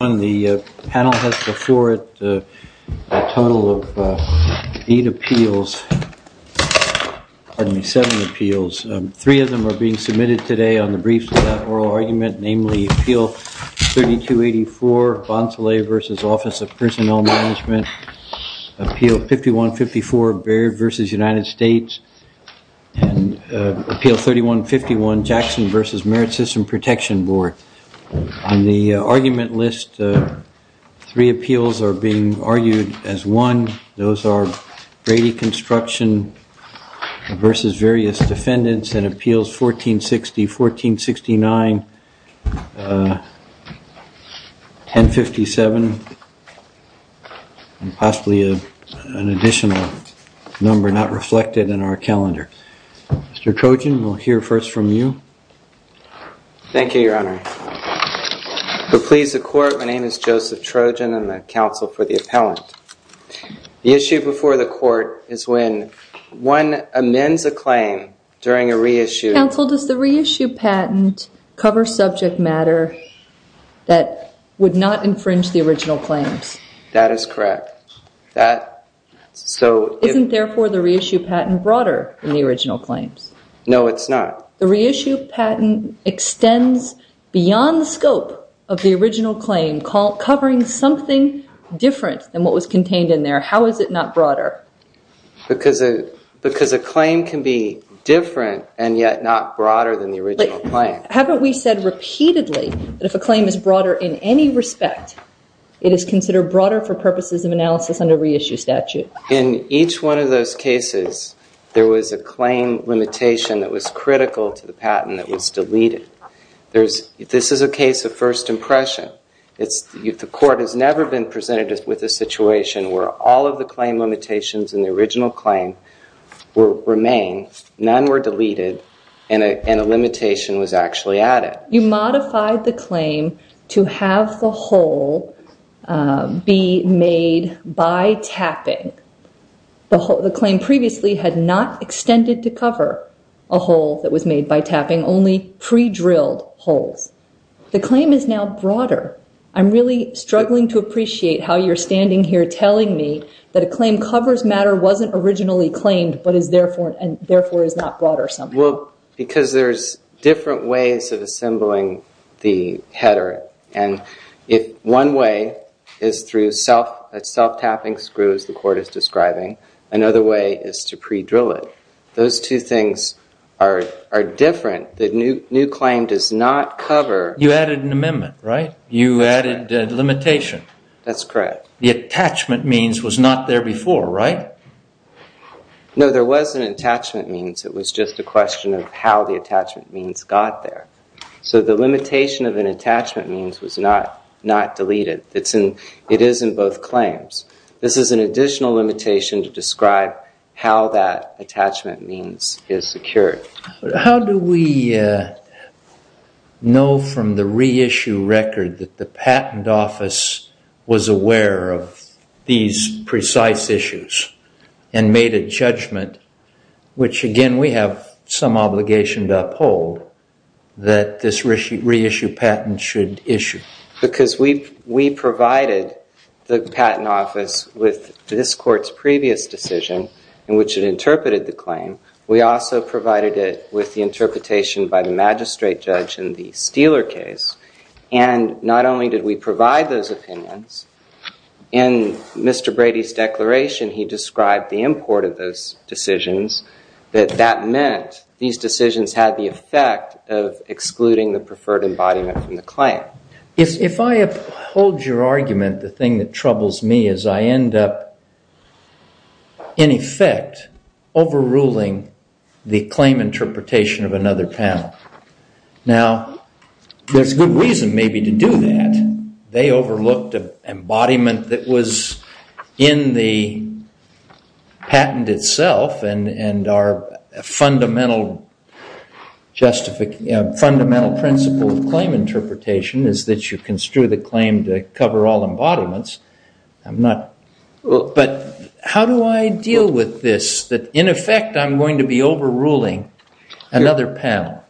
On the panel has before it a total of 8 appeals, pardon me, 7 appeals. Three of them are being submitted today on the briefs of that oral argument, namely Appeal 3284, Bonsolet v. Office of Personnel Management, Appeal 5154, Baird v. United States, and Appeal 3151, Jackson v. Merit System Protection Board. On the argument list, three appeals are being argued as one. Those are Brady Construction v. Various Defendants and Appeals 1460, 1469, 1057, and possibly an additional number not reflected in our calendar. Mr. Trojan, we'll hear first from you. Thank you, Your Honor. To please the Court, my name is Joseph Trojan. I'm the counsel for the appellant. The issue before the Court is when one amends a claim during a reissue... Counsel, does the reissue patent cover subject matter that would not infringe the original claims? That is correct. Isn't, therefore, the reissue patent broader than the original claims? No, it's not. The reissue patent extends beyond the scope of the original claim, covering something different than what was contained in there. How is it not broader? Because a claim can be different and yet not broader than the original claim. Haven't we said repeatedly that if a claim is broader in any respect, it is considered broader for purposes of analysis under reissue statute? In each one of those cases, there was a claim limitation that was critical to the patent that was deleted. This is a case of first impression. The Court has never been presented with a situation where all of the claim limitations in the original claim remain, none were deleted, and a limitation was actually added. You modified the claim to have the hole be made by tapping. The claim previously had not extended to cover a hole that was made by tapping, only pre-drilled holes. The claim is now broader. I'm really struggling to appreciate how you're standing here telling me that a claim covers matter wasn't originally claimed, and therefore is not broader somehow. Well, because there's different ways of assembling the header. And if one way is through self-tapping screws, the Court is describing, another way is to pre-drill it. Those two things are different. The new claim does not cover... You added an amendment, right? You added a limitation. That's correct. The attachment means was not there before, right? No, there was an attachment means. It was just a question of how the attachment means got there. So the limitation of an attachment means was not deleted. It is in both claims. This is an additional limitation to describe how that attachment means is secured. How do we know from the reissue record that the Patent Office was aware of these precise issues and made a judgment, which again, we have some obligation to uphold, that this reissue patent should issue? Because we provided the Patent Office with this Court's previous decision in which it interpreted the claim. We also provided it with the interpretation by the magistrate judge in the Steeler case. And not only did we provide those opinions, in Mr. Brady's declaration, he described the import of those decisions, that that meant these decisions had the effect of excluding the preferred embodiment from the claim. If I uphold your argument, the thing that troubles me is I end up, in effect, overruling the claim interpretation of another panel. Now, there's good reason maybe to do that. They overlooked an embodiment that was in the patent itself, and our fundamental principle of claim interpretation is that you construe the claim to cover all embodiments. But how do I deal with this, that in effect, I'm going to be overruling another panel?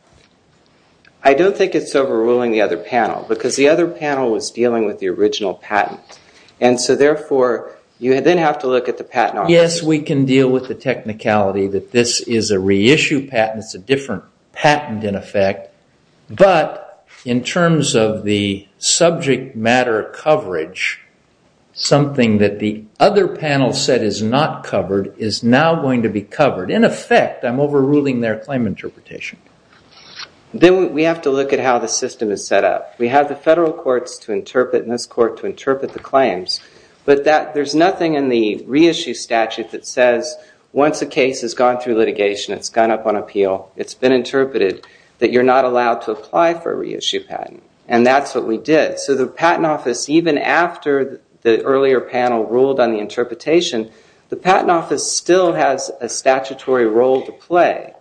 I don't think it's overruling the other panel, because the other panel was dealing with the original patent. And so therefore, you then have to look at the Patent Office. Yes, we can deal with the technicality that this is a reissue patent. It's a different patent, in effect. But in terms of the subject matter coverage, something that the other panel said is not covered is now going to be covered. In effect, I'm overruling their claim interpretation. Then we have to look at how the system is set up. We have the federal courts to interpret and this court to interpret the claims. But there's nothing in the reissue statute that says once a case has gone through litigation, it's gone up on appeal, it's been interpreted, that you're not allowed to apply for a reissue patent. And that's what we did. So the Patent Office, even after the earlier panel ruled on the interpretation, the Patent Office still has a statutory role to play.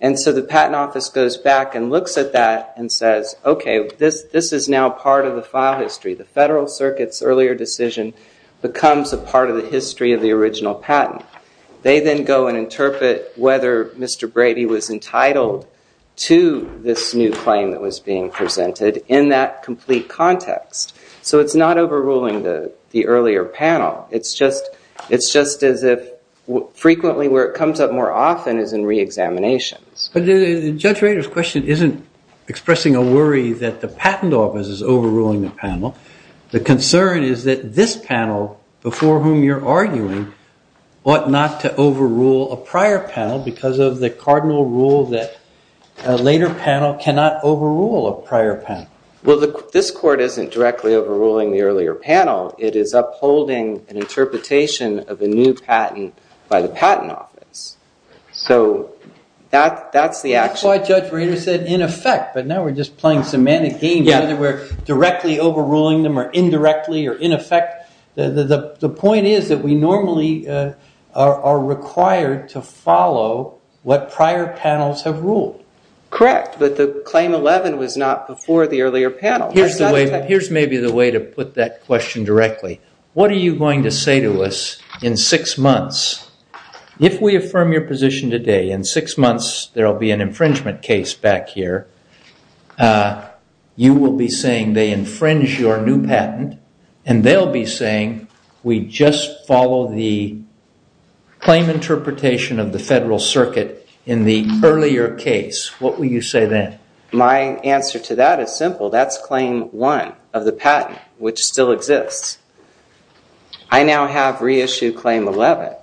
And so the Patent Office goes back and looks at that and says, okay, this is now part of the file history. The Federal Circuit's earlier decision becomes a part of the history of the original patent. They then go and interpret whether Mr. Brady was entitled to this new claim that was being presented in that complete context. So it's not overruling the earlier panel. It's just as if frequently where it comes up more often is in reexaminations. But Judge Rader's question isn't expressing a worry that the Patent Office is overruling the panel. The concern is that this panel, before whom you're arguing, ought not to overrule a prior panel because of the cardinal rule that a later panel cannot overrule a prior panel. Well, this court isn't directly overruling the earlier panel. It is upholding an interpretation of a new patent by the Patent Office. So that's the action. That's why Judge Rader said in effect. But now we're just playing semantic games. Either we're directly overruling them or indirectly or in effect. The point is that we normally are required to follow what prior panels have ruled. Correct, but the Claim 11 was not before the earlier panel. Here's maybe the way to put that question directly. What are you going to say to us in six months? If we affirm your position today, in six months there will be an infringement case back here. You will be saying they infringe your new patent. And they'll be saying we just follow the claim interpretation of the Federal Circuit in the earlier case. What will you say then? My answer to that is simple. That's Claim 1 of the patent, which still exists. I now have reissued Claim 11.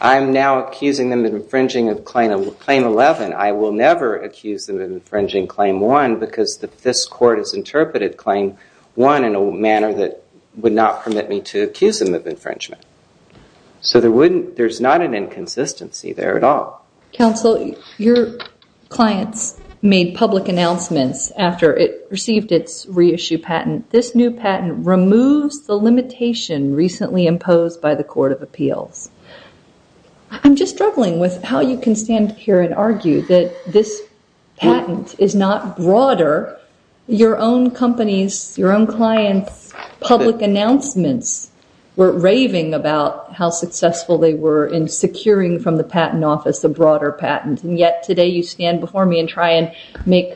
I'm now accusing them of infringing Claim 11. I will never accuse them of infringing Claim 1 because this court has interpreted Claim 1 in a manner that would not permit me to accuse them of infringement. So there's not an inconsistency there at all. Counsel, your clients made public announcements after it received its reissued patent. This new patent removes the limitation recently imposed by the Court of Appeals. I'm just struggling with how you can stand here and argue that this patent is not broader. Your own companies, your own clients' public announcements were raving about how successful they were in securing from the Patent Office a broader patent. And yet today you stand before me and try and make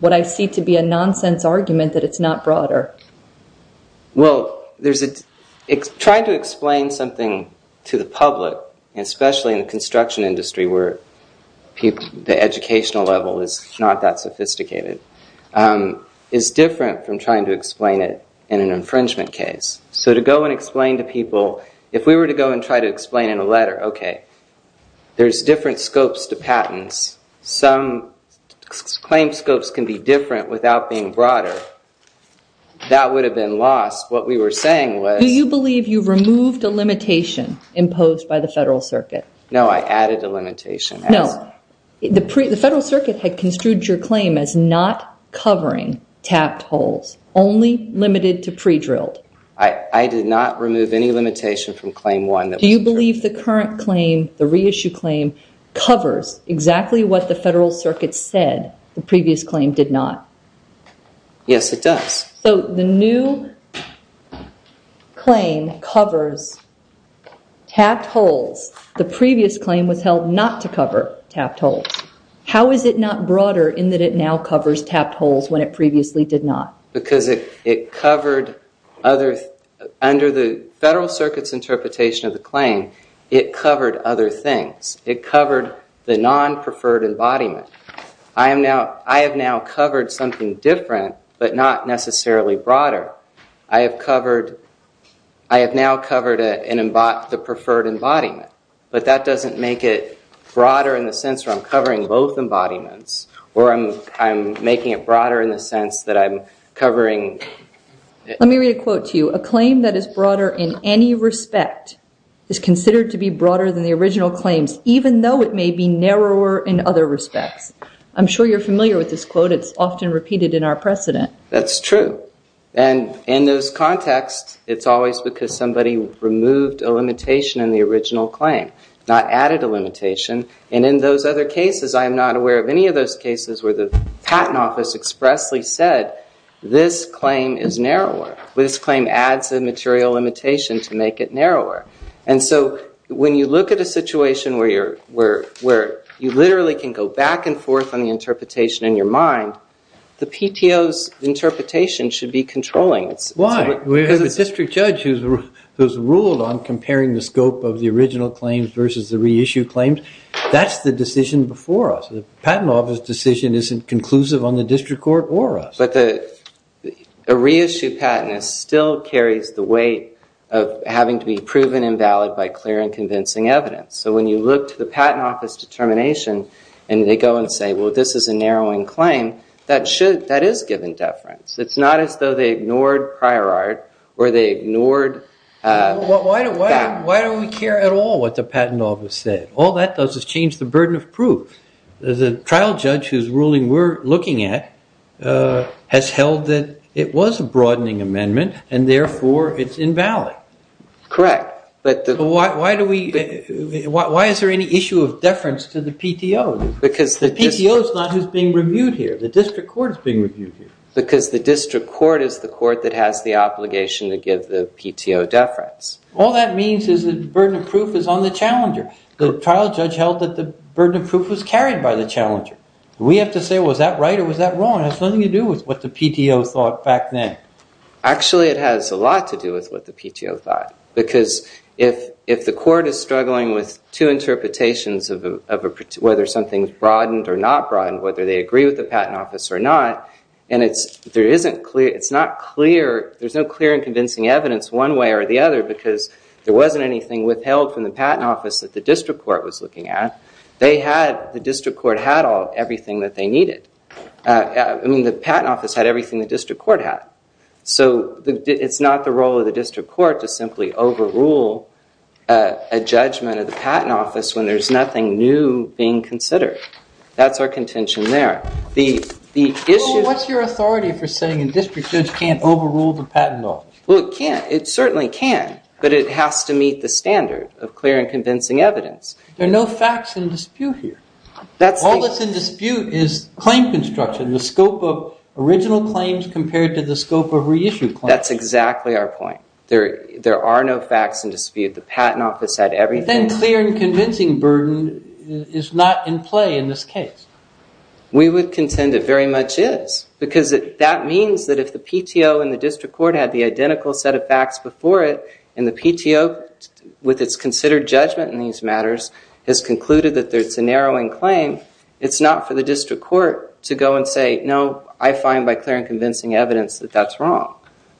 what I see to be a nonsense argument that it's not broader. Well, trying to explain something to the public, especially in the construction industry where the educational level is not that sophisticated, is different from trying to explain it in an infringement case. So to go and explain to people, if we were to go and try to explain in a letter, okay, there's different scopes to patents. Some claim scopes can be different without being broader. That would have been lost. What we were saying was... Do you believe you removed a limitation imposed by the Federal Circuit? No, I added a limitation. No. The Federal Circuit had construed your claim as not covering tapped holes, only limited to pre-drilled. I did not remove any limitation from Claim 1. Do you believe the current claim, the reissue claim, covers exactly what the Federal Circuit said the previous claim did not? Yes, it does. So the new claim covers tapped holes. The previous claim was held not to cover tapped holes. How is it not broader in that it now covers tapped holes when it previously did not? Because it covered other... Under the Federal Circuit's interpretation of the claim, it covered other things. It covered the non-preferred embodiment. I have now covered something different but not necessarily broader. I have now covered the preferred embodiment. But that doesn't make it broader in the sense where I'm covering both embodiments or I'm making it broader in the sense that I'm covering... Let me read a quote to you. A claim that is broader in any respect is considered to be broader than the original claims, even though it may be narrower in other respects. I'm sure you're familiar with this quote. It's often repeated in our precedent. That's true. And in those contexts, it's always because somebody removed a limitation in the original claim, not added a limitation. And in those other cases, I am not aware of any of those cases where the Patent Office expressly said, this claim is narrower. This claim adds a material limitation to make it narrower. And so when you look at a situation where you literally can go back and forth on the interpretation in your mind, the PTO's interpretation should be controlling. Why? Because the district judge who's ruled on comparing the scope of the original claims versus the reissued claims, that's the decision before us. The Patent Office decision isn't conclusive on the district court or us. But a reissued patent still carries the weight of having to be proven invalid by clear and convincing evidence. So when you look to the Patent Office determination and they go and say, well, this is a narrowing claim, that is given deference. It's not as though they ignored prior art or they ignored that. Why do we care at all what the Patent Office said? All that does is change the burden of proof. The trial judge who's ruling we're looking at has held that it was a broadening amendment and, therefore, it's invalid. Correct. Why is there any issue of deference to the PTO? The PTO is not who's being reviewed here. The district court is being reviewed here. Because the district court is the court that has the obligation to give the PTO deference. All that means is that the burden of proof is on the challenger. The trial judge held that the burden of proof was carried by the challenger. We have to say, was that right or was that wrong? It has nothing to do with what the PTO thought back then. Actually, it has a lot to do with what the PTO thought. Because if the court is struggling with two interpretations of whether something's broadened or not broadened, whether they agree with the Patent Office or not, and there's no clear and convincing evidence one way or the other because there wasn't anything withheld from the Patent Office that the district court was looking at, the district court had everything that they needed. The Patent Office had everything the district court had. So it's not the role of the district court to simply overrule a judgment of the Patent Office when there's nothing new being considered. That's our contention there. What's your authority for saying a district judge can't overrule the Patent Office? Well, it can. It certainly can. But it has to meet the standard of clear and convincing evidence. There are no facts in dispute here. All that's in dispute is claim construction, and the scope of original claims compared to the scope of reissued claims. That's exactly our point. There are no facts in dispute. The Patent Office had everything. But then clear and convincing burden is not in play in this case. We would contend it very much is because that means that if the PTO and the district court had the identical set of facts before it and the PTO, with its considered judgment in these matters, has concluded that there's a narrowing claim, it's not for the district court to go and say, no, I find by clear and convincing evidence that that's wrong.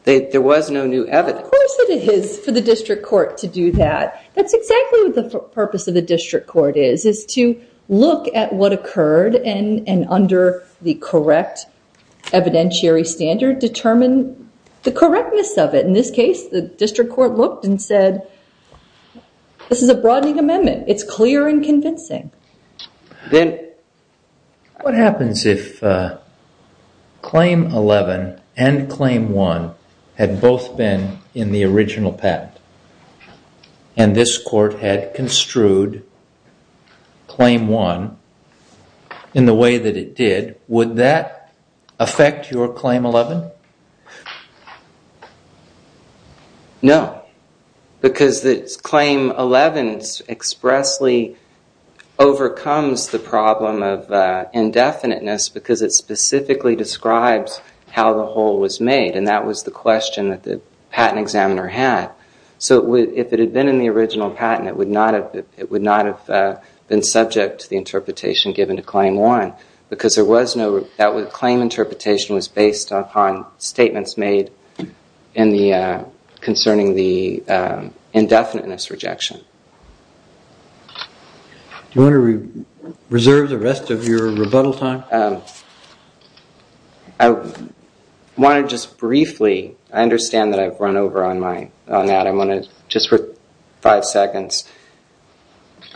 There was no new evidence. Of course it is for the district court to do that. That's exactly what the purpose of the district court is, is to look at what occurred and, under the correct evidentiary standard, determine the correctness of it. In this case, the district court looked and said, this is a broadening amendment. It's clear and convincing. What happens if Claim 11 and Claim 1 had both been in the original patent and this court had construed Claim 1 in the way that it did? Would that affect your Claim 11? No, because Claim 11 expressly overcomes the problem of indefiniteness because it specifically describes how the whole was made and that was the question that the patent examiner had. So if it had been in the original patent, it would not have been subject to the interpretation given to Claim 1 because the claim interpretation was based upon statements made concerning the indefiniteness rejection. Do you want to reserve the rest of your rebuttal time? I want to just briefly... I understand that I've run over on that. I want to, just for five seconds...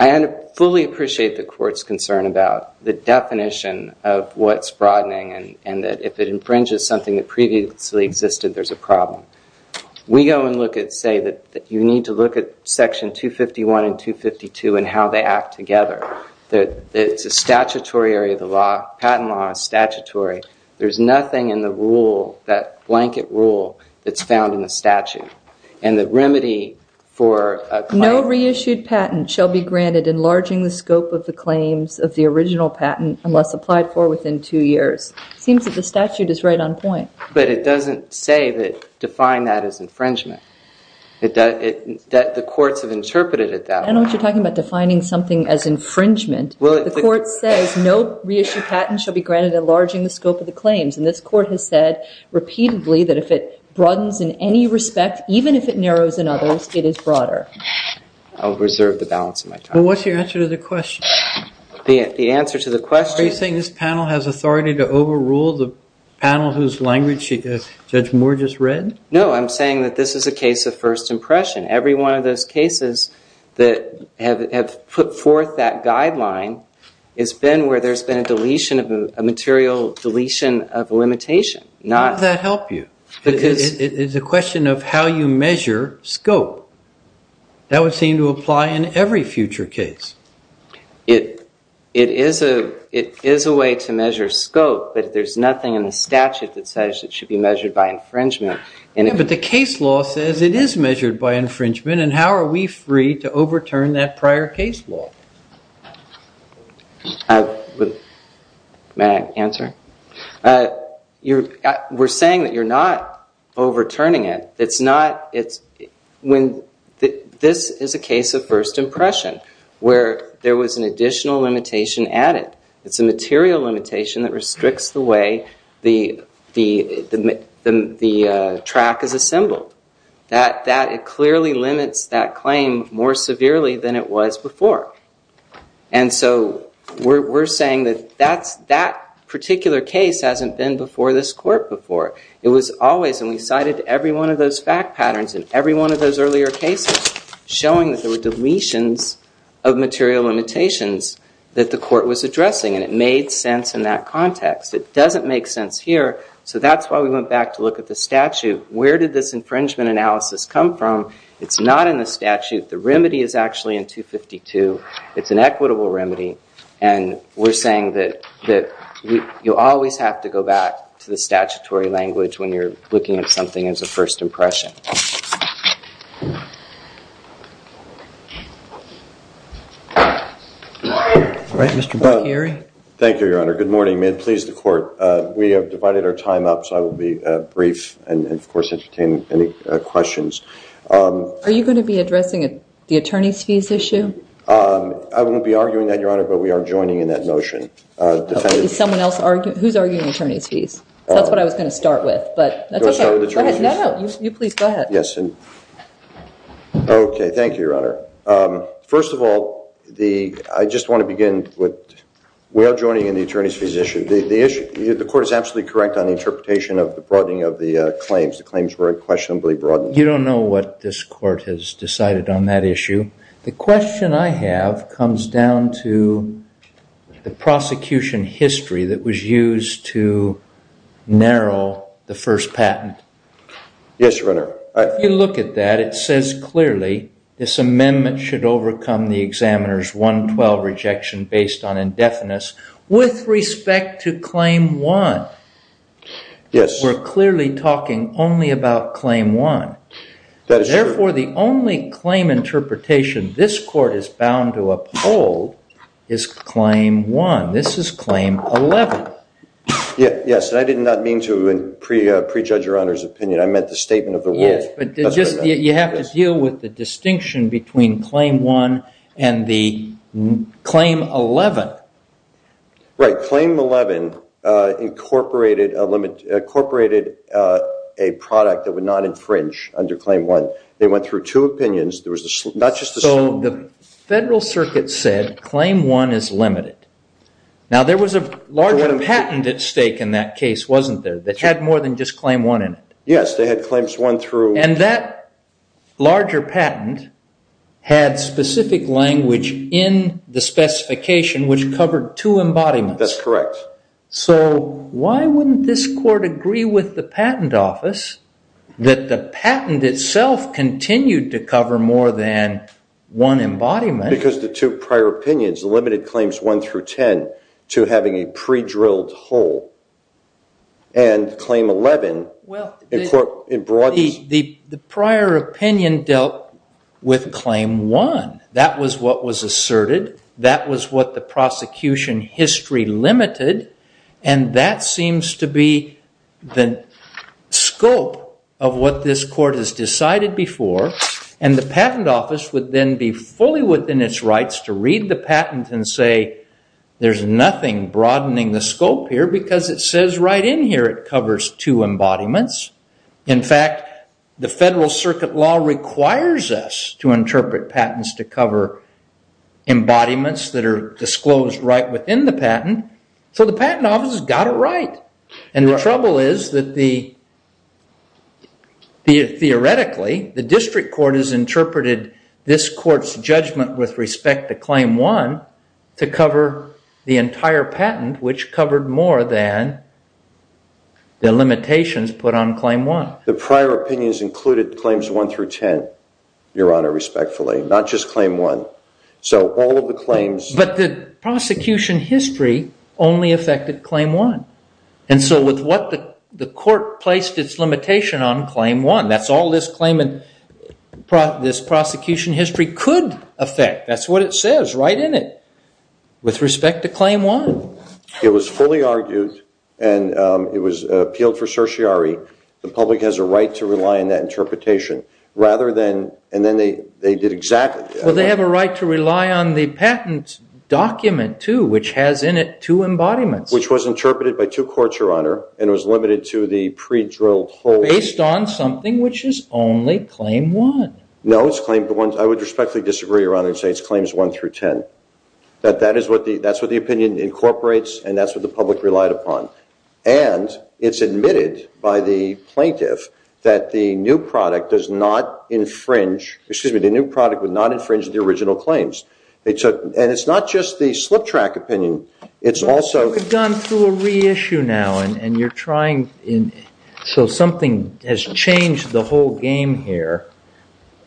I fully appreciate the court's concern about the definition of what's broadening and that if it infringes something that previously existed, there's a problem. We go and say that you need to look at Section 251 and 252 and how they act together. It's a statutory area of the law. Patent law is statutory. There's nothing in the rule, that blanket rule, that's found in the statute. And the remedy for... ...shall be granted enlarging the scope of the claims of the original patent unless applied for within two years. It seems that the statute is right on point. But it doesn't say that define that as infringement. The courts have interpreted it that way. I don't know what you're talking about defining something as infringement. The court says no reissued patent shall be granted enlarging the scope of the claims and this court has said repeatedly that if it broadens in any respect, even if it narrows in others, it is broader. I'll reserve the balance of my time. Well, what's your answer to the question? The answer to the question... Are you saying this panel has authority to overrule the panel whose language Judge Moore just read? No, I'm saying that this is a case of first impression. Every one of those cases that have put forth that guideline has been where there's been a deletion, a material deletion of limitation. How does that help you? It's a question of how you measure scope. That would seem to apply in every future case. It is a way to measure scope, but there's nothing in the statute that says it should be measured by infringement. But the case law says it is measured by infringement and how are we free to overturn that prior case law? May I answer? We're saying that you're not overturning it. This is a case of first impression where there was an additional limitation added. It's a material limitation that restricts the way the track is assembled. It clearly limits that claim more severely than it was before. We're saying that that particular case hasn't been before this court before. It was always and we cited every one of those fact patterns in every one of those earlier cases showing that there were deletions of material limitations that the court was addressing and it made sense in that context. It doesn't make sense here, so that's why we went back to look at the statute. Where did this infringement analysis come from? It's not in the statute. The remedy is actually in 252. It's an equitable remedy and we're saying that you always have to go back to the statutory language when you're looking at something as a first impression. All right, Mr. Bocchieri. Thank you, Your Honor. Good morning. May it please the court. We have divided our time up, so I will be brief and of course entertain any questions. Are you going to be addressing the attorney's fees issue? I won't be arguing that, Your Honor, but we are joining in that notion. Is someone else arguing? Who's arguing attorney's fees? That's what I was going to start with, but that's okay. Go ahead. You please go ahead. Yes. Okay, thank you, Your Honor. First of all, I just want to begin with we are joining in the attorney's fees issue. The court is absolutely correct on the interpretation of the broadening of the claims. The claims were unquestionably broadened. You don't know what this court has decided on that issue. The question I have comes down to the prosecution history that was used to narrow the first patent. Yes, Your Honor. If you look at that, it says clearly this amendment should overcome the examiner's 112 rejection based on indefinites with respect to claim one. Yes. We're clearly talking only about claim one. That is true. Therefore, the only claim interpretation this court is bound to uphold is claim one. This is claim 11. Yes, and I did not mean to prejudge Your Honor's opinion. I meant the statement of the rules. Yes, but you have to deal with the distinction between claim one and the claim 11. Right. Claim 11 incorporated a product that would not infringe under claim one. They went through two opinions. So the federal circuit said claim one is limited. Now, there was a larger patent at stake in that case, wasn't there, that had more than just claim one in it? Yes, they had claims one through. And that larger patent had specific language in the specification, which covered two embodiments. That's correct. So why wouldn't this court agree with the patent office that the patent itself continued to cover more than one embodiment? Because the two prior opinions, the limited claims one through 10, to having a pre-drilled hole. And claim 11, the court brought this. The prior opinion dealt with claim one. That was what was asserted. That was what the prosecution history limited. And that seems to be the scope of what this court has decided before. And the patent office would then be fully within its rights to read the patent and say, there's nothing broadening the scope here, because it says right in here it covers two embodiments. In fact, the federal circuit law requires us to interpret patents to cover embodiments that are disclosed right within the patent. So the patent office has got it right. And the trouble is that theoretically, the district court has interpreted this court's judgment with respect to claim one to cover the entire patent, which covered more than the limitations put on claim one. The prior opinions included claims one through 10, Your Honor, respectfully, not just claim one. So all of the claims. But the prosecution history only affected claim one. And so with what the court placed its limitation on, claim one. That's all this prosecution history could affect. That's what it says right in it with respect to claim one. It was fully argued. And it was appealed for certiorari. The public has a right to rely on that interpretation. And then they did exactly that. Well, they have a right to rely on the patent document, too, which has in it two embodiments. Which was interpreted by two courts, Your Honor, and was limited to the pre-drilled holdings. Based on something which is only claim one. No, it's claim one. I would respectfully disagree, Your Honor, and say it's claims one through 10. That's what the opinion incorporates, and that's what the public relied upon. And it's admitted by the plaintiff that the new product does not infringe. Excuse me, the new product would not infringe the original claims. And it's not just the slip track opinion. It's also. We've gone through a reissue now. And you're trying. So something has changed the whole game here.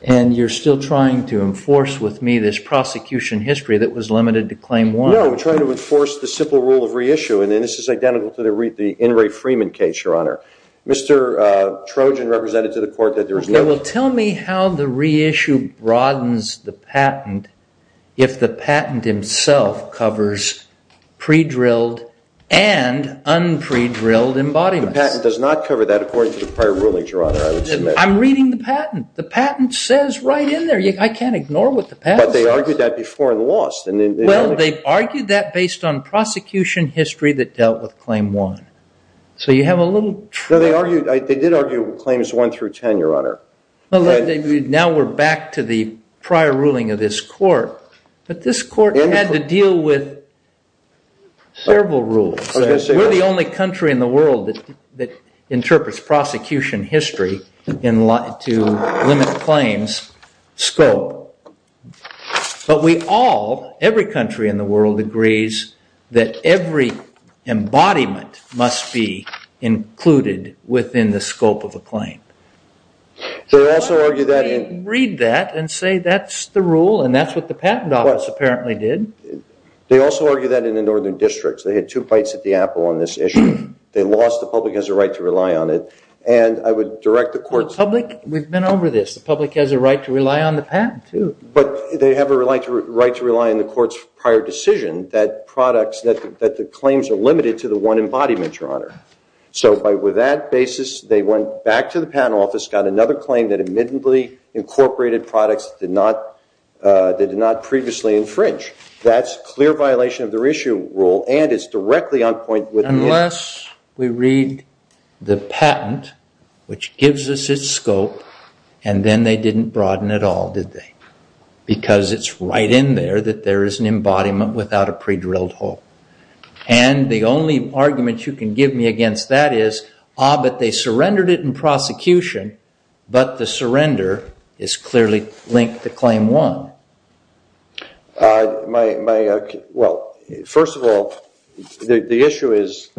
And you're still trying to enforce with me this prosecution history that was limited to claim one. No, we're trying to enforce the simple rule of reissue. And this is identical to the In re Freeman case, Your Honor. Mr. Trojan represented to the court that there is no. Well, tell me how the reissue broadens the patent if the patent himself covers pre-drilled and un-pre-drilled embodiments. The patent does not cover that according to the prior ruling, Your Honor, I would submit. I'm reading the patent. The patent says right in there. I can't ignore what the patent says. But they argued that before and lost. Well, they argued that based on prosecution history that dealt with claim one. So you have a little. No, they did argue claims one through 10, Your Honor. Now we're back to the prior ruling of this court. But this court had to deal with several rules. We're the only country in the world that interprets prosecution history to limit claims scope. But we all, every country in the world, agrees that every embodiment must be included within the scope of a claim. They also argue that in. Read that and say that's the rule. And that's what the patent office apparently did. They also argue that in the northern districts. They had two fights at the apple on this issue. They lost. The public has a right to rely on it. And I would direct the court. The public, we've been over this. The public has a right to rely on the patent, too. But they have a right to rely on the court's prior decision that the claims are limited to the one embodiment, Your Honor. So with that basis, they went back to the patent office, got another claim that admittedly incorporated products that did not previously infringe. That's a clear violation of their issue rule and is directly on point with the rule. Unless we read the patent, which gives us its scope, and then they didn't broaden at all, did they? Because it's right in there that there is an embodiment without a pre-drilled hole. And the only argument you can give me against that is, ah, but they surrendered it in prosecution. But the surrender is clearly linked to claim one. Well, first of all, the issue is,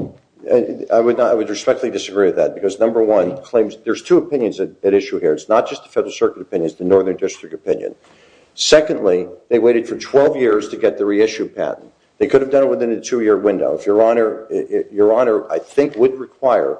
I would respectfully disagree with that. Because number one, there's two opinions at issue here. It's not just the Federal Circuit opinion. It's the Northern District opinion. Secondly, they waited for 12 years to get the reissue patent. They could have done it within a two-year window. Your Honor, I think, would require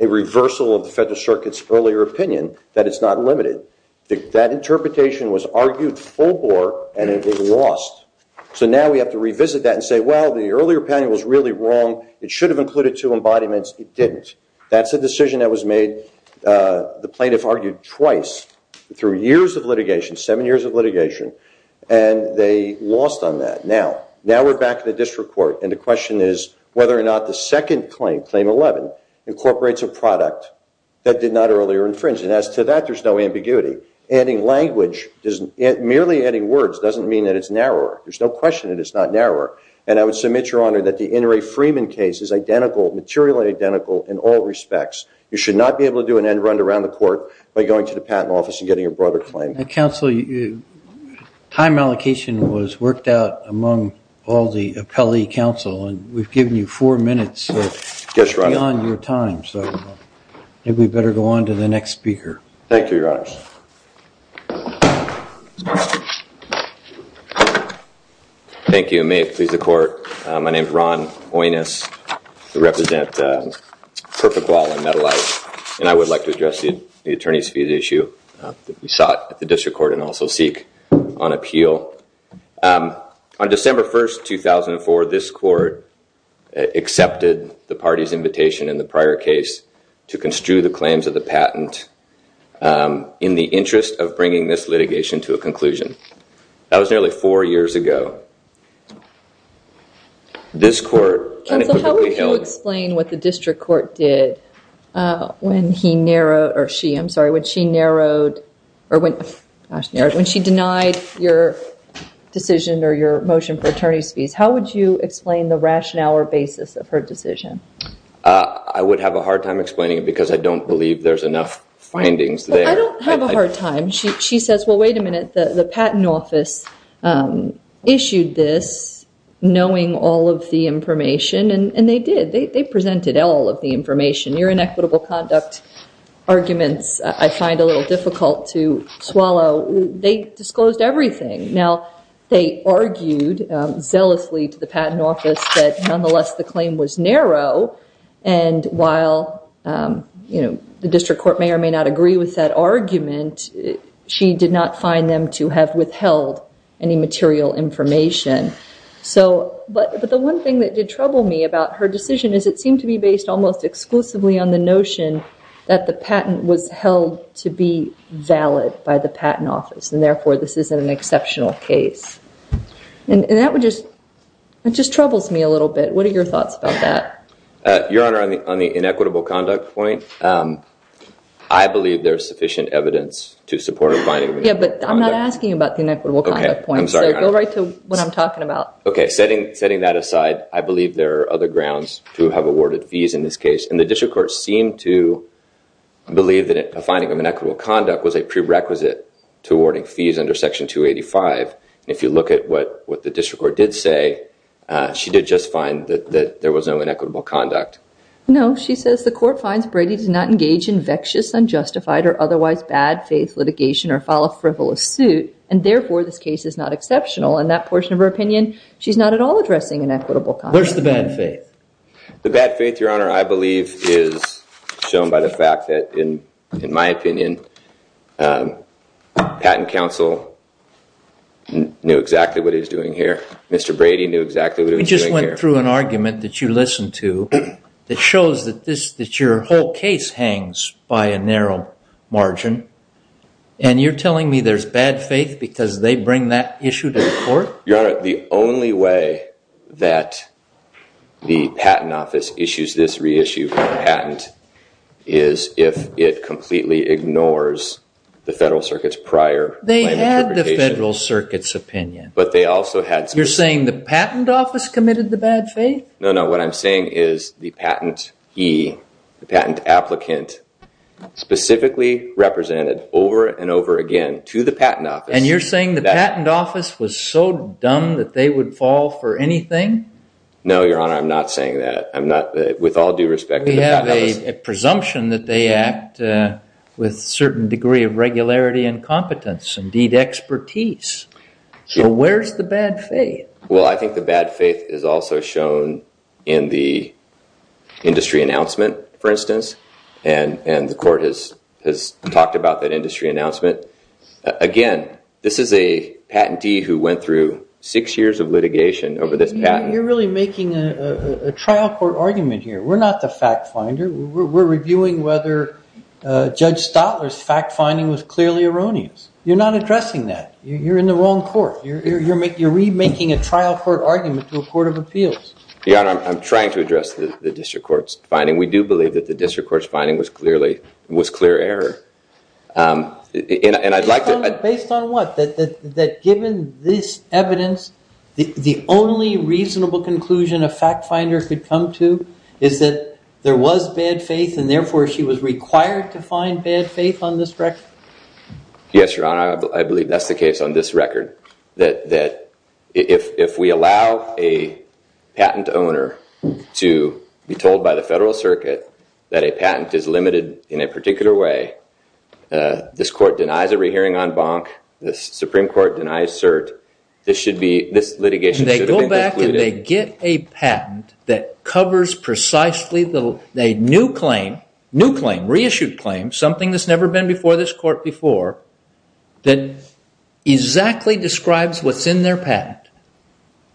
a reversal of the Federal Circuit's earlier opinion that it's not limited. That interpretation was argued full bore, and it was lost. So now we have to revisit that and say, well, the earlier opinion was really wrong. It should have included two embodiments. It didn't. That's a decision that was made. The plaintiff argued twice through years of litigation, seven years of litigation. And they lost on that. Now we're back in the district court. And the question is whether or not the second claim, claim 11, incorporates a product that did not earlier infringe. And as to that, there's no ambiguity. Adding language, merely adding words doesn't mean that it's narrower. There's no question that it's not narrower. And I would submit, Your Honor, that the Inouye Freeman case is identical, materially identical, in all respects. You should not be able to do an end run around the court by going to the patent office and getting a broader claim. Counsel, time allocation was worked out among all the appellee counsel. And we've given you four minutes beyond your time. So maybe we'd better go on to the next speaker. Thank you, Your Honor. Thank you. May it please the court. My name is Ron Oines. I represent Perfect Wall and Metalite. And I would like to address the attorney's fees issue that we sought at the district court and also seek on appeal. On December 1, 2004, this court accepted the party's invitation in the prior case to construe the claims of the patent in the interest of bringing this litigation to a conclusion. That was nearly four years ago. This court unequivocally held. Counsel, how would you explain what the district court did when he narrowed, or she, I'm sorry, when she narrowed, or when, gosh, narrowed, when she denied your decision or your motion for attorney's fees? How would you explain the rationale or basis of her decision? I would have a hard time explaining it, because I don't believe there's enough findings there. Well, I don't have a hard time. She says, well, wait a minute. The patent office issued this knowing all of the information. And they did. They presented all of the information. Your inequitable conduct arguments I find a little difficult to swallow. They disclosed everything. Now, they argued zealously to the patent office that nonetheless the claim was narrow. And while the district court may or may not agree with that argument, she did not find them to have withheld any material information. But the one thing that did trouble me about her decision is it seemed to be based almost exclusively on the notion that the patent was held to be valid by the patent office, and therefore this isn't an exceptional case. And that just troubles me a little bit. What are your thoughts about that? Your Honor, on the inequitable conduct point, I believe there's sufficient evidence to support a finding of inequitable conduct. Yeah, but I'm not asking about the inequitable conduct point. So go right to what I'm talking about. OK, setting that aside, I believe there are other grounds to have awarded fees in this case. And the district court seemed to believe that a finding of inequitable conduct was a prerequisite to awarding fees under Section 285. And if you look at what the district court did say, she did just find that there was no inequitable conduct. No. She says the court finds Brady did not engage in vexed, unjustified, or otherwise bad faith litigation or file a frivolous suit, and therefore this case is not exceptional. In that portion of her opinion, she's not at all addressing inequitable conduct. Where's the bad faith? The bad faith, Your Honor, I believe is shown by the fact that, in my opinion, patent counsel knew exactly what he was doing here. Mr. Brady knew exactly what he was doing here. You just went through an argument that you listened to that shows that your whole case hangs by a narrow margin. And you're telling me there's bad faith because they bring that issue to the court? Your Honor, the only way that the Patent Office issues this reissue patent is if it completely ignores the Federal Circuit's prior interpretations. They had the Federal Circuit's opinion. You're saying the Patent Office committed the bad faith? No, no. What I'm saying is the patent he, the patent applicant, specifically represented over and over again to the Patent Office. And you're saying the Patent Office was so dumb that they would fall for anything? No, Your Honor, I'm not saying that. With all due respect to the Patent Office. We have a presumption that they act with a certain degree of regularity and competence, indeed expertise. So where's the bad faith? Well, I think the bad faith is also shown in the industry announcement, for instance. And the court has talked about that industry announcement. Again, this is a patentee who went through six years of litigation over this patent. You're really making a trial court argument here. We're not the fact finder. We're reviewing whether Judge Stotler's fact finding was clearly erroneous. You're not addressing that. You're in the wrong court. You're remaking a trial court argument to a court of appeals. Your Honor, I'm trying to address the district court's finding. We do believe that the district court's finding was clearly, was clear error. And I'd like to- Based on what? That given this evidence, the only reasonable conclusion a fact finder could come to is that there was bad faith and therefore she was required to find bad faith on this record? Yes, Your Honor. I believe that's the case on this record. That if we allow a patent owner to be told by the federal circuit that a patent is limited in a particular way, this court denies a rehearing en banc, the Supreme Court denies cert. This litigation should have been concluded- That covers precisely the new claim, new claim, reissued claim, something that's never been before this court before that exactly describes what's in their patent.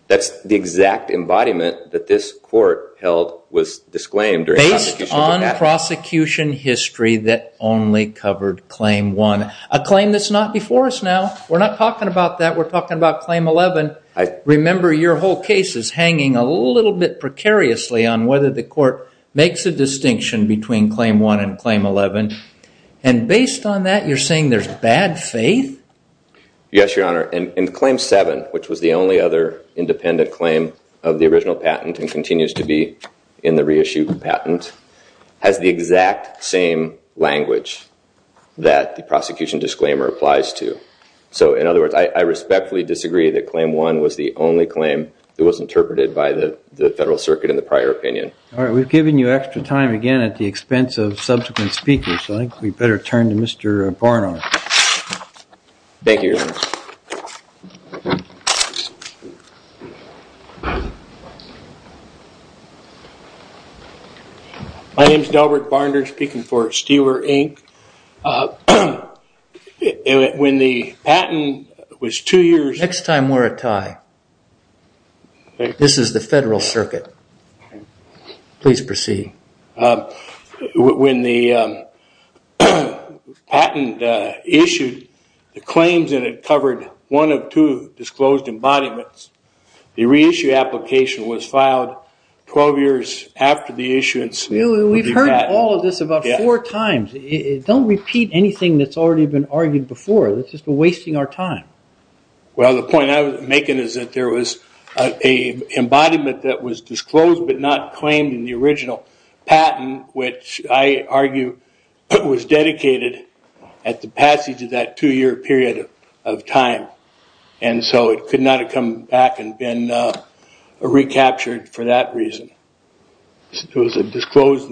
That's the exact embodiment that this court held was disclaimed during the prosecution of the patent. Based on prosecution history that only covered claim one. A claim that's not before us now. We're not talking about that. We're talking about claim 11. Remember, your whole case is hanging a little bit precariously on whether the court makes a distinction between claim one and claim 11. And based on that, you're saying there's bad faith? Yes, Your Honor. In claim seven, which was the only other independent claim of the original patent and continues to be in the reissued patent, has the exact same language that the prosecution disclaimer applies to. So, in other words, I respectfully disagree that claim one was the only claim that was interpreted by the Federal Circuit in the prior opinion. All right. We've given you extra time again at the expense of subsequent speakers. I think we better turn to Mr. Barnard. Thank you, Your Honor. My name is Delbert Barnard speaking for Steeler Inc. When the patent was two years... Next time we're a tie. This is the Federal Circuit. Please proceed. When the patent issued, the claims that it covered one of two disclosed embodiments, the reissue application was filed 12 years after the issuance. We've heard all of this about four times. Don't repeat anything that's already been argued before. That's just wasting our time. Well, the point I was making is that there was an embodiment that was disclosed but not claimed in the original patent, which I argue was dedicated at the passage of that two-year period of time. And so it could not have come back and been recaptured for that reason. It was a disclosed,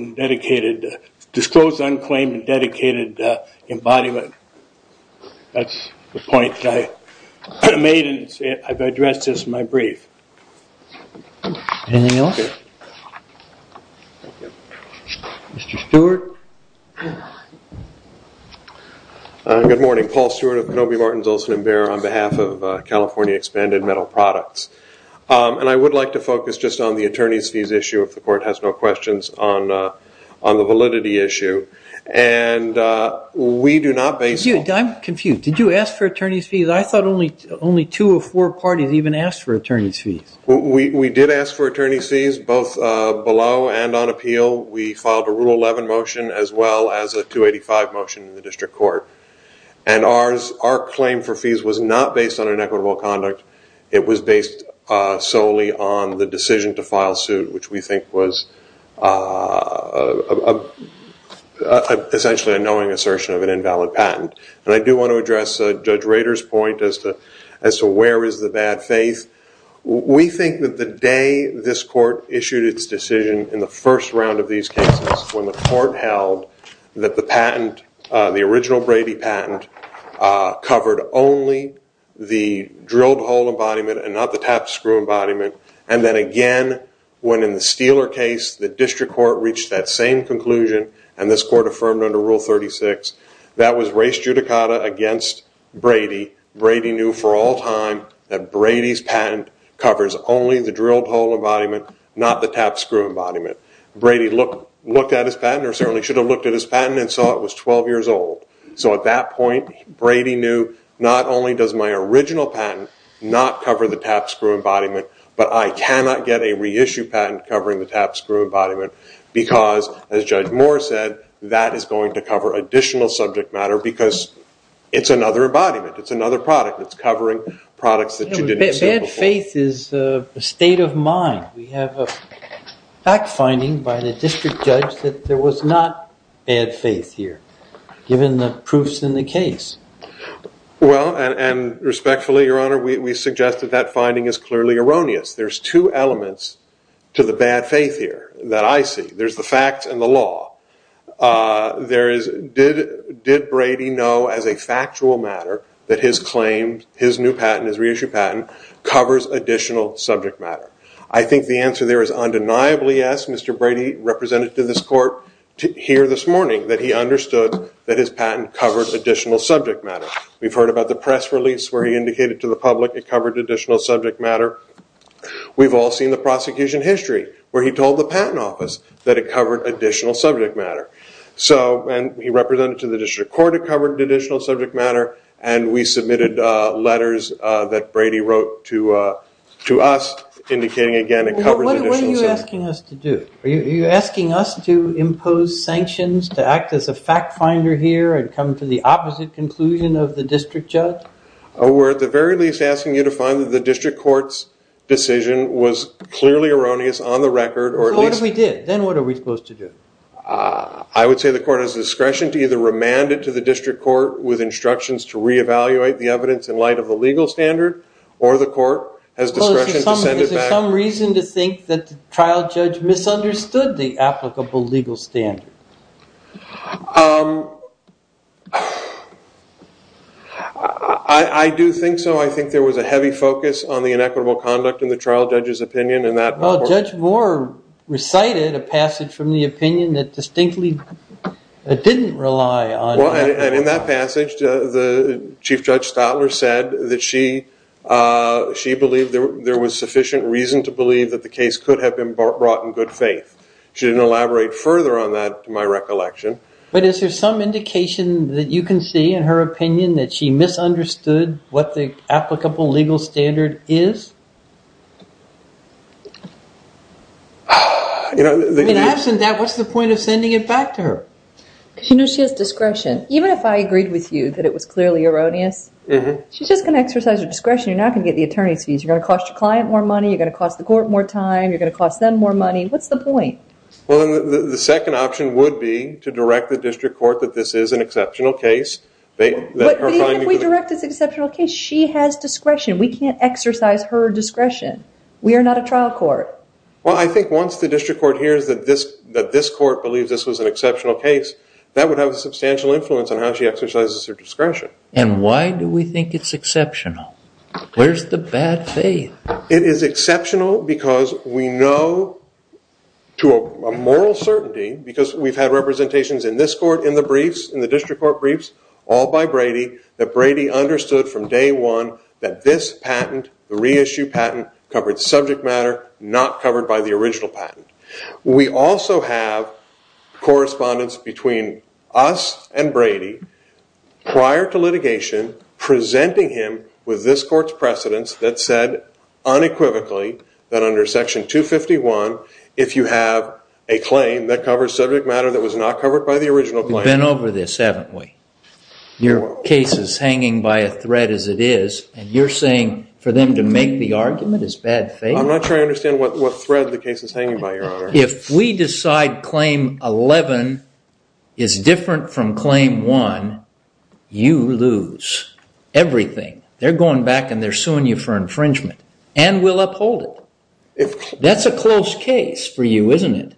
unclaimed, and dedicated embodiment. That's the point that I made, and I've addressed this in my brief. Anything else? Mr. Stewart. Good morning. Paul Stewart of Kenobi, Martins, Olson & Bear on behalf of California Expanded Metal Products. And I would like to focus just on the attorney's fees issue, if the court has no questions, on the validity issue. And we do not base- I'm confused. Did you ask for attorney's fees? I thought only two or four parties even asked for attorney's fees. We did ask for attorney's fees, both below and on appeal. We filed a Rule 11 motion as well as a 285 motion in the district court. And our claim for fees was not based on inequitable conduct. It was based solely on the decision to file suit, which we think was essentially a knowing assertion of an invalid patent. And I do want to address Judge Rader's point as to where is the bad faith. We think that the day this court issued its decision in the first round of these cases, when the court held that the patent, the original Brady patent, covered only the drilled hole embodiment and not the tapped screw embodiment. And then again, when in the Steeler case, the district court reached that same conclusion, and this court affirmed under Rule 36, that was race judicata against Brady. Brady knew for all time that Brady's patent covers only the drilled hole embodiment, not the tapped screw embodiment. Brady looked at his patent, or certainly should have looked at his patent, and saw it was 12 years old. So at that point, Brady knew not only does my original patent not cover the tapped screw embodiment, but I cannot get a reissue patent covering the tapped screw embodiment, because, as Judge Moore said, that is going to cover additional subject matter, because it's another embodiment. It's another product that's covering products that you didn't consider before. Bad faith is a state of mind. We have a fact finding by the district judge that there was not bad faith here, given the proofs in the case. Well, and respectfully, Your Honor, we suggest that that finding is clearly erroneous. There's two elements to the bad faith here that I see. There's the facts and the law. Did Brady know as a factual matter that his claim, his new patent, his reissue patent, covers additional subject matter? I think the answer there is undeniably yes. Mr. Brady represented to this court here this morning that he understood that his patent covered additional subject matter. We've heard about the press release where he indicated to the public it covered additional subject matter. We've all seen the prosecution history where he told the patent office that it covered additional subject matter. So he represented to the district court it covered additional subject matter, and we submitted letters that Brady wrote to us indicating, again, it covered additional subject matter. What are you asking us to do? Are you asking us to impose sanctions to act as a fact finder here and come to the opposite conclusion of the district judge? We're at the very least asking you to find that the district court's decision was clearly erroneous on the record. Well, what if we did? Then what are we supposed to do? I would say the court has discretion to either remand it to the district court with instructions to reevaluate the evidence in light of the legal standard, or the court has discretion to send it back. Is there some reason to think that the trial judge misunderstood the applicable legal standard? I do think so. I think there was a heavy focus on the inequitable conduct in the trial judge's opinion. Judge Moore recited a passage from the opinion that distinctly didn't rely on that. And in that passage, the chief judge Stadler said that she believed there was sufficient reason to believe that the case could have been brought in good faith. She didn't elaborate further on that, to my recollection. But is there some indication that you can see in her opinion that she misunderstood what the applicable legal standard is? In absence of that, what's the point of sending it back to her? Because she knows she has discretion. Even if I agreed with you that it was clearly erroneous, she's just going to exercise her discretion. You're not going to get the attorney's fees. You're going to cost your client more money. You're going to cost the court more time. You're going to cost them more money. What's the point? The second option would be to direct the district court that this is an exceptional case. But even if we direct it as an exceptional case, she has discretion. We can't exercise her discretion. We are not a trial court. Well, I think once the district court hears that this court believes this was an exceptional case, that would have a substantial influence on how she exercises her discretion. And why do we think it's exceptional? Where's the bad faith? It is exceptional because we know to a moral certainty, because we've had representations in this court in the briefs, in the district court briefs, all by Brady, that Brady understood from day one that this patent, the reissue patent, covered subject matter not covered by the original patent. We also have correspondence between us and Brady prior to litigation, presenting him with this court's precedents that said unequivocally that under Section 251, if you have a claim that covers subject matter that was not covered by the original patent. We've been over this, haven't we? Your case is hanging by a thread as it is. And you're saying for them to make the argument is bad faith? I'm not sure I understand what thread the case is hanging by, Your Honor. If we decide Claim 11 is different from Claim 1, you lose everything. They're going back and they're suing you for infringement. And we'll uphold it. That's a close case for you, isn't it?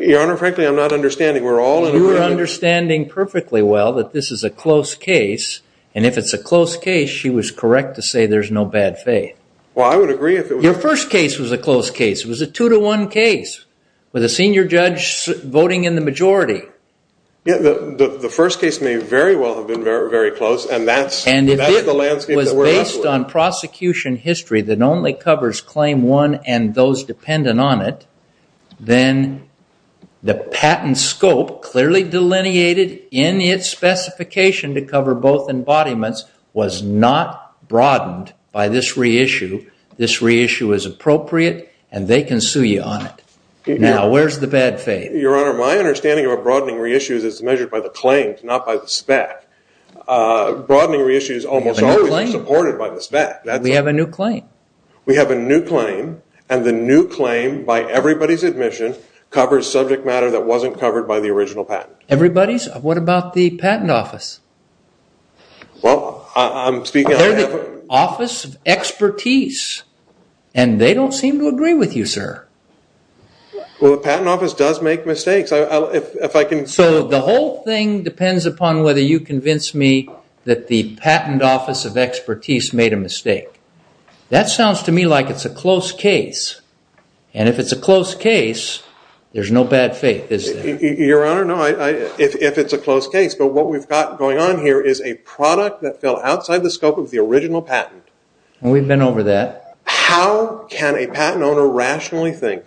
Your Honor, frankly, I'm not understanding. You are understanding perfectly well that this is a close case. And if it's a close case, she was correct to say there's no bad faith. Well, I would agree. Your first case was a close case. It was a two-to-one case with a senior judge voting in the majority. The first case may very well have been very close. And that's the landscape that we're in. And if it was based on prosecution history that only covers Claim 1 and those dependent on it, then the patent scope clearly delineated in its specification to cover both embodiments was not broadened by this reissue. This reissue is appropriate, and they can sue you on it. Now, where's the bad faith? Your Honor, my understanding of a broadening reissue is it's measured by the claims, not by the spec. Broadening reissues almost always are supported by the spec. We have a new claim. We have a new claim, and the new claim, by everybody's admission, covers subject matter that wasn't covered by the original patent. Everybody's? What about the Patent Office? Well, I'm speaking on behalf of... They're the Office of Expertise, and they don't seem to agree with you, sir. Well, the Patent Office does make mistakes. So the whole thing depends upon whether you convince me that the Patent Office of Expertise made a mistake. That sounds to me like it's a close case. And if it's a close case, there's no bad faith, is there? Your Honor, no, if it's a close case. But what we've got going on here is a product that fell outside the scope of the original patent. We've been over that. How can a patent owner rationally think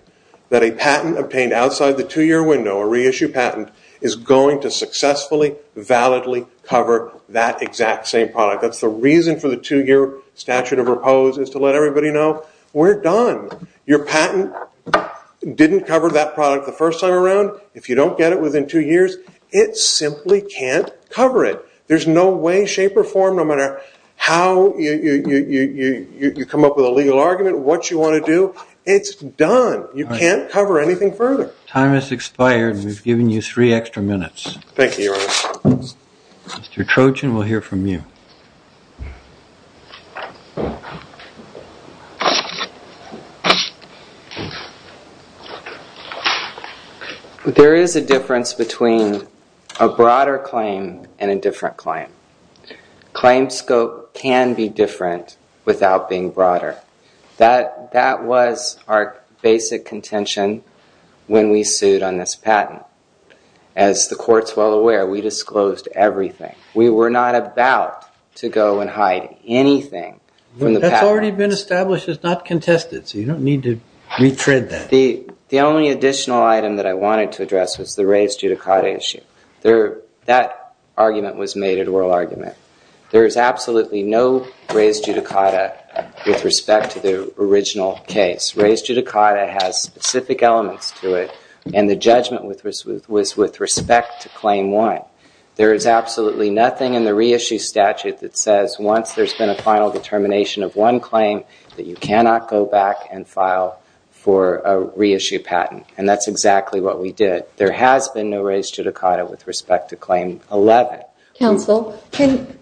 that a patent obtained outside the two-year window, a reissue patent, is going to successfully, validly cover that exact same product? That's the reason for the two-year statute of repose is to let everybody know, we're done. Your patent didn't cover that product the first time around. If you don't get it within two years, it simply can't cover it. There's no way, shape, or form, no matter how you come up with a legal argument, what you want to do, it's done. You can't cover anything further. Time has expired. We've given you three extra minutes. Thank you, Your Honor. Mr. Trojan will hear from you. There is a difference between a broader claim and a different claim. Claim scope can be different without being broader. That was our basic contention when we sued on this patent. As the court's well aware, we disclosed everything. We were not about to go and hide anything from the patent. That's already been established. It's not contested, so you don't need to retread that. The only additional item that I wanted to address was the raised judicata issue. That argument was made at oral argument. There is absolutely no raised judicata with respect to the original case. Raised judicata has specific elements to it, and the judgment was with respect to claim one. There is absolutely nothing in the reissue statute that says once there's been a final determination of one claim that you cannot go back and file for a reissue patent, and that's exactly what we did. There has been no raised judicata with respect to claim 11. Counsel, can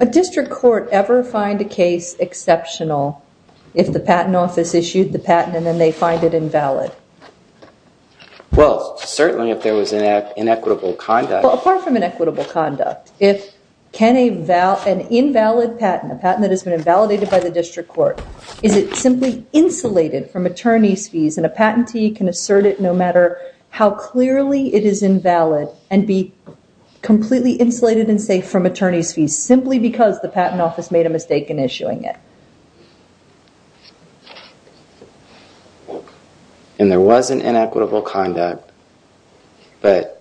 a district court ever find a case exceptional if the patent office issued the patent and then they find it invalid? Well, certainly if there was inequitable conduct. Well, apart from inequitable conduct, can an invalid patent, a patent that has been invalidated by the district court, is it simply insulated from attorney's fees and a patentee can assert it no matter how clearly it is invalid and be completely insulated and safe from attorney's fees simply because the patent office made a mistake in issuing it? And there was an inequitable conduct, but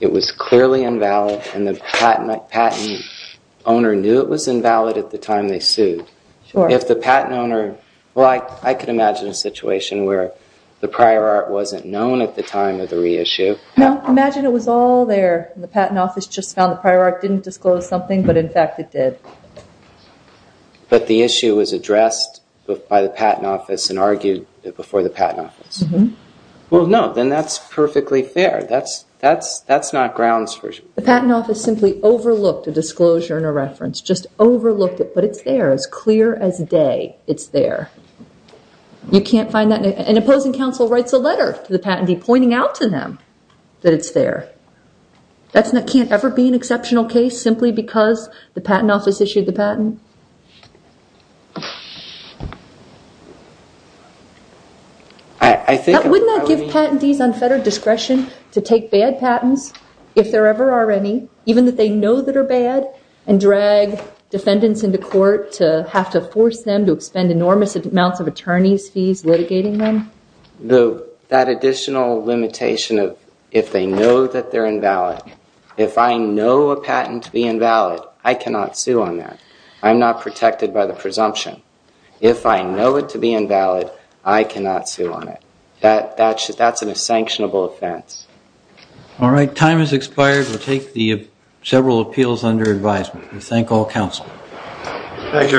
it was clearly invalid and the patent owner knew it was invalid at the time they sued. If the patent owner, well, I could imagine a situation where the prior art wasn't known at the time of the reissue. No, imagine it was all there and the patent office just found the prior art didn't disclose something, but in fact it did. But the issue was addressed by the patent office and argued before the patent office. Well, no, then that's perfectly fair. That's not grounds for... The patent office simply overlooked a disclosure and a reference, just overlooked it, but it's there. It's clear as day it's there. You can't find that... An opposing counsel writes a letter to the patentee pointing out to them that it's there. That can't ever be an exceptional case simply because the patent office issued the patent? Wouldn't that give patentees unfettered discretion to take bad patents, if there ever are any, even if they know that are bad, and drag defendants into court to have to force them to expend enormous amounts of attorney's fees litigating them? That additional limitation of if they know that they're invalid, if I know a patent to be invalid, I cannot sue on that. I'm not protected by the presumption. If I know it to be invalid, I cannot sue on it. That's a sanctionable offense. All right, time has expired. We'll take the several appeals under advisement. We thank all counsel. Thank you, Your Honors. Thank you.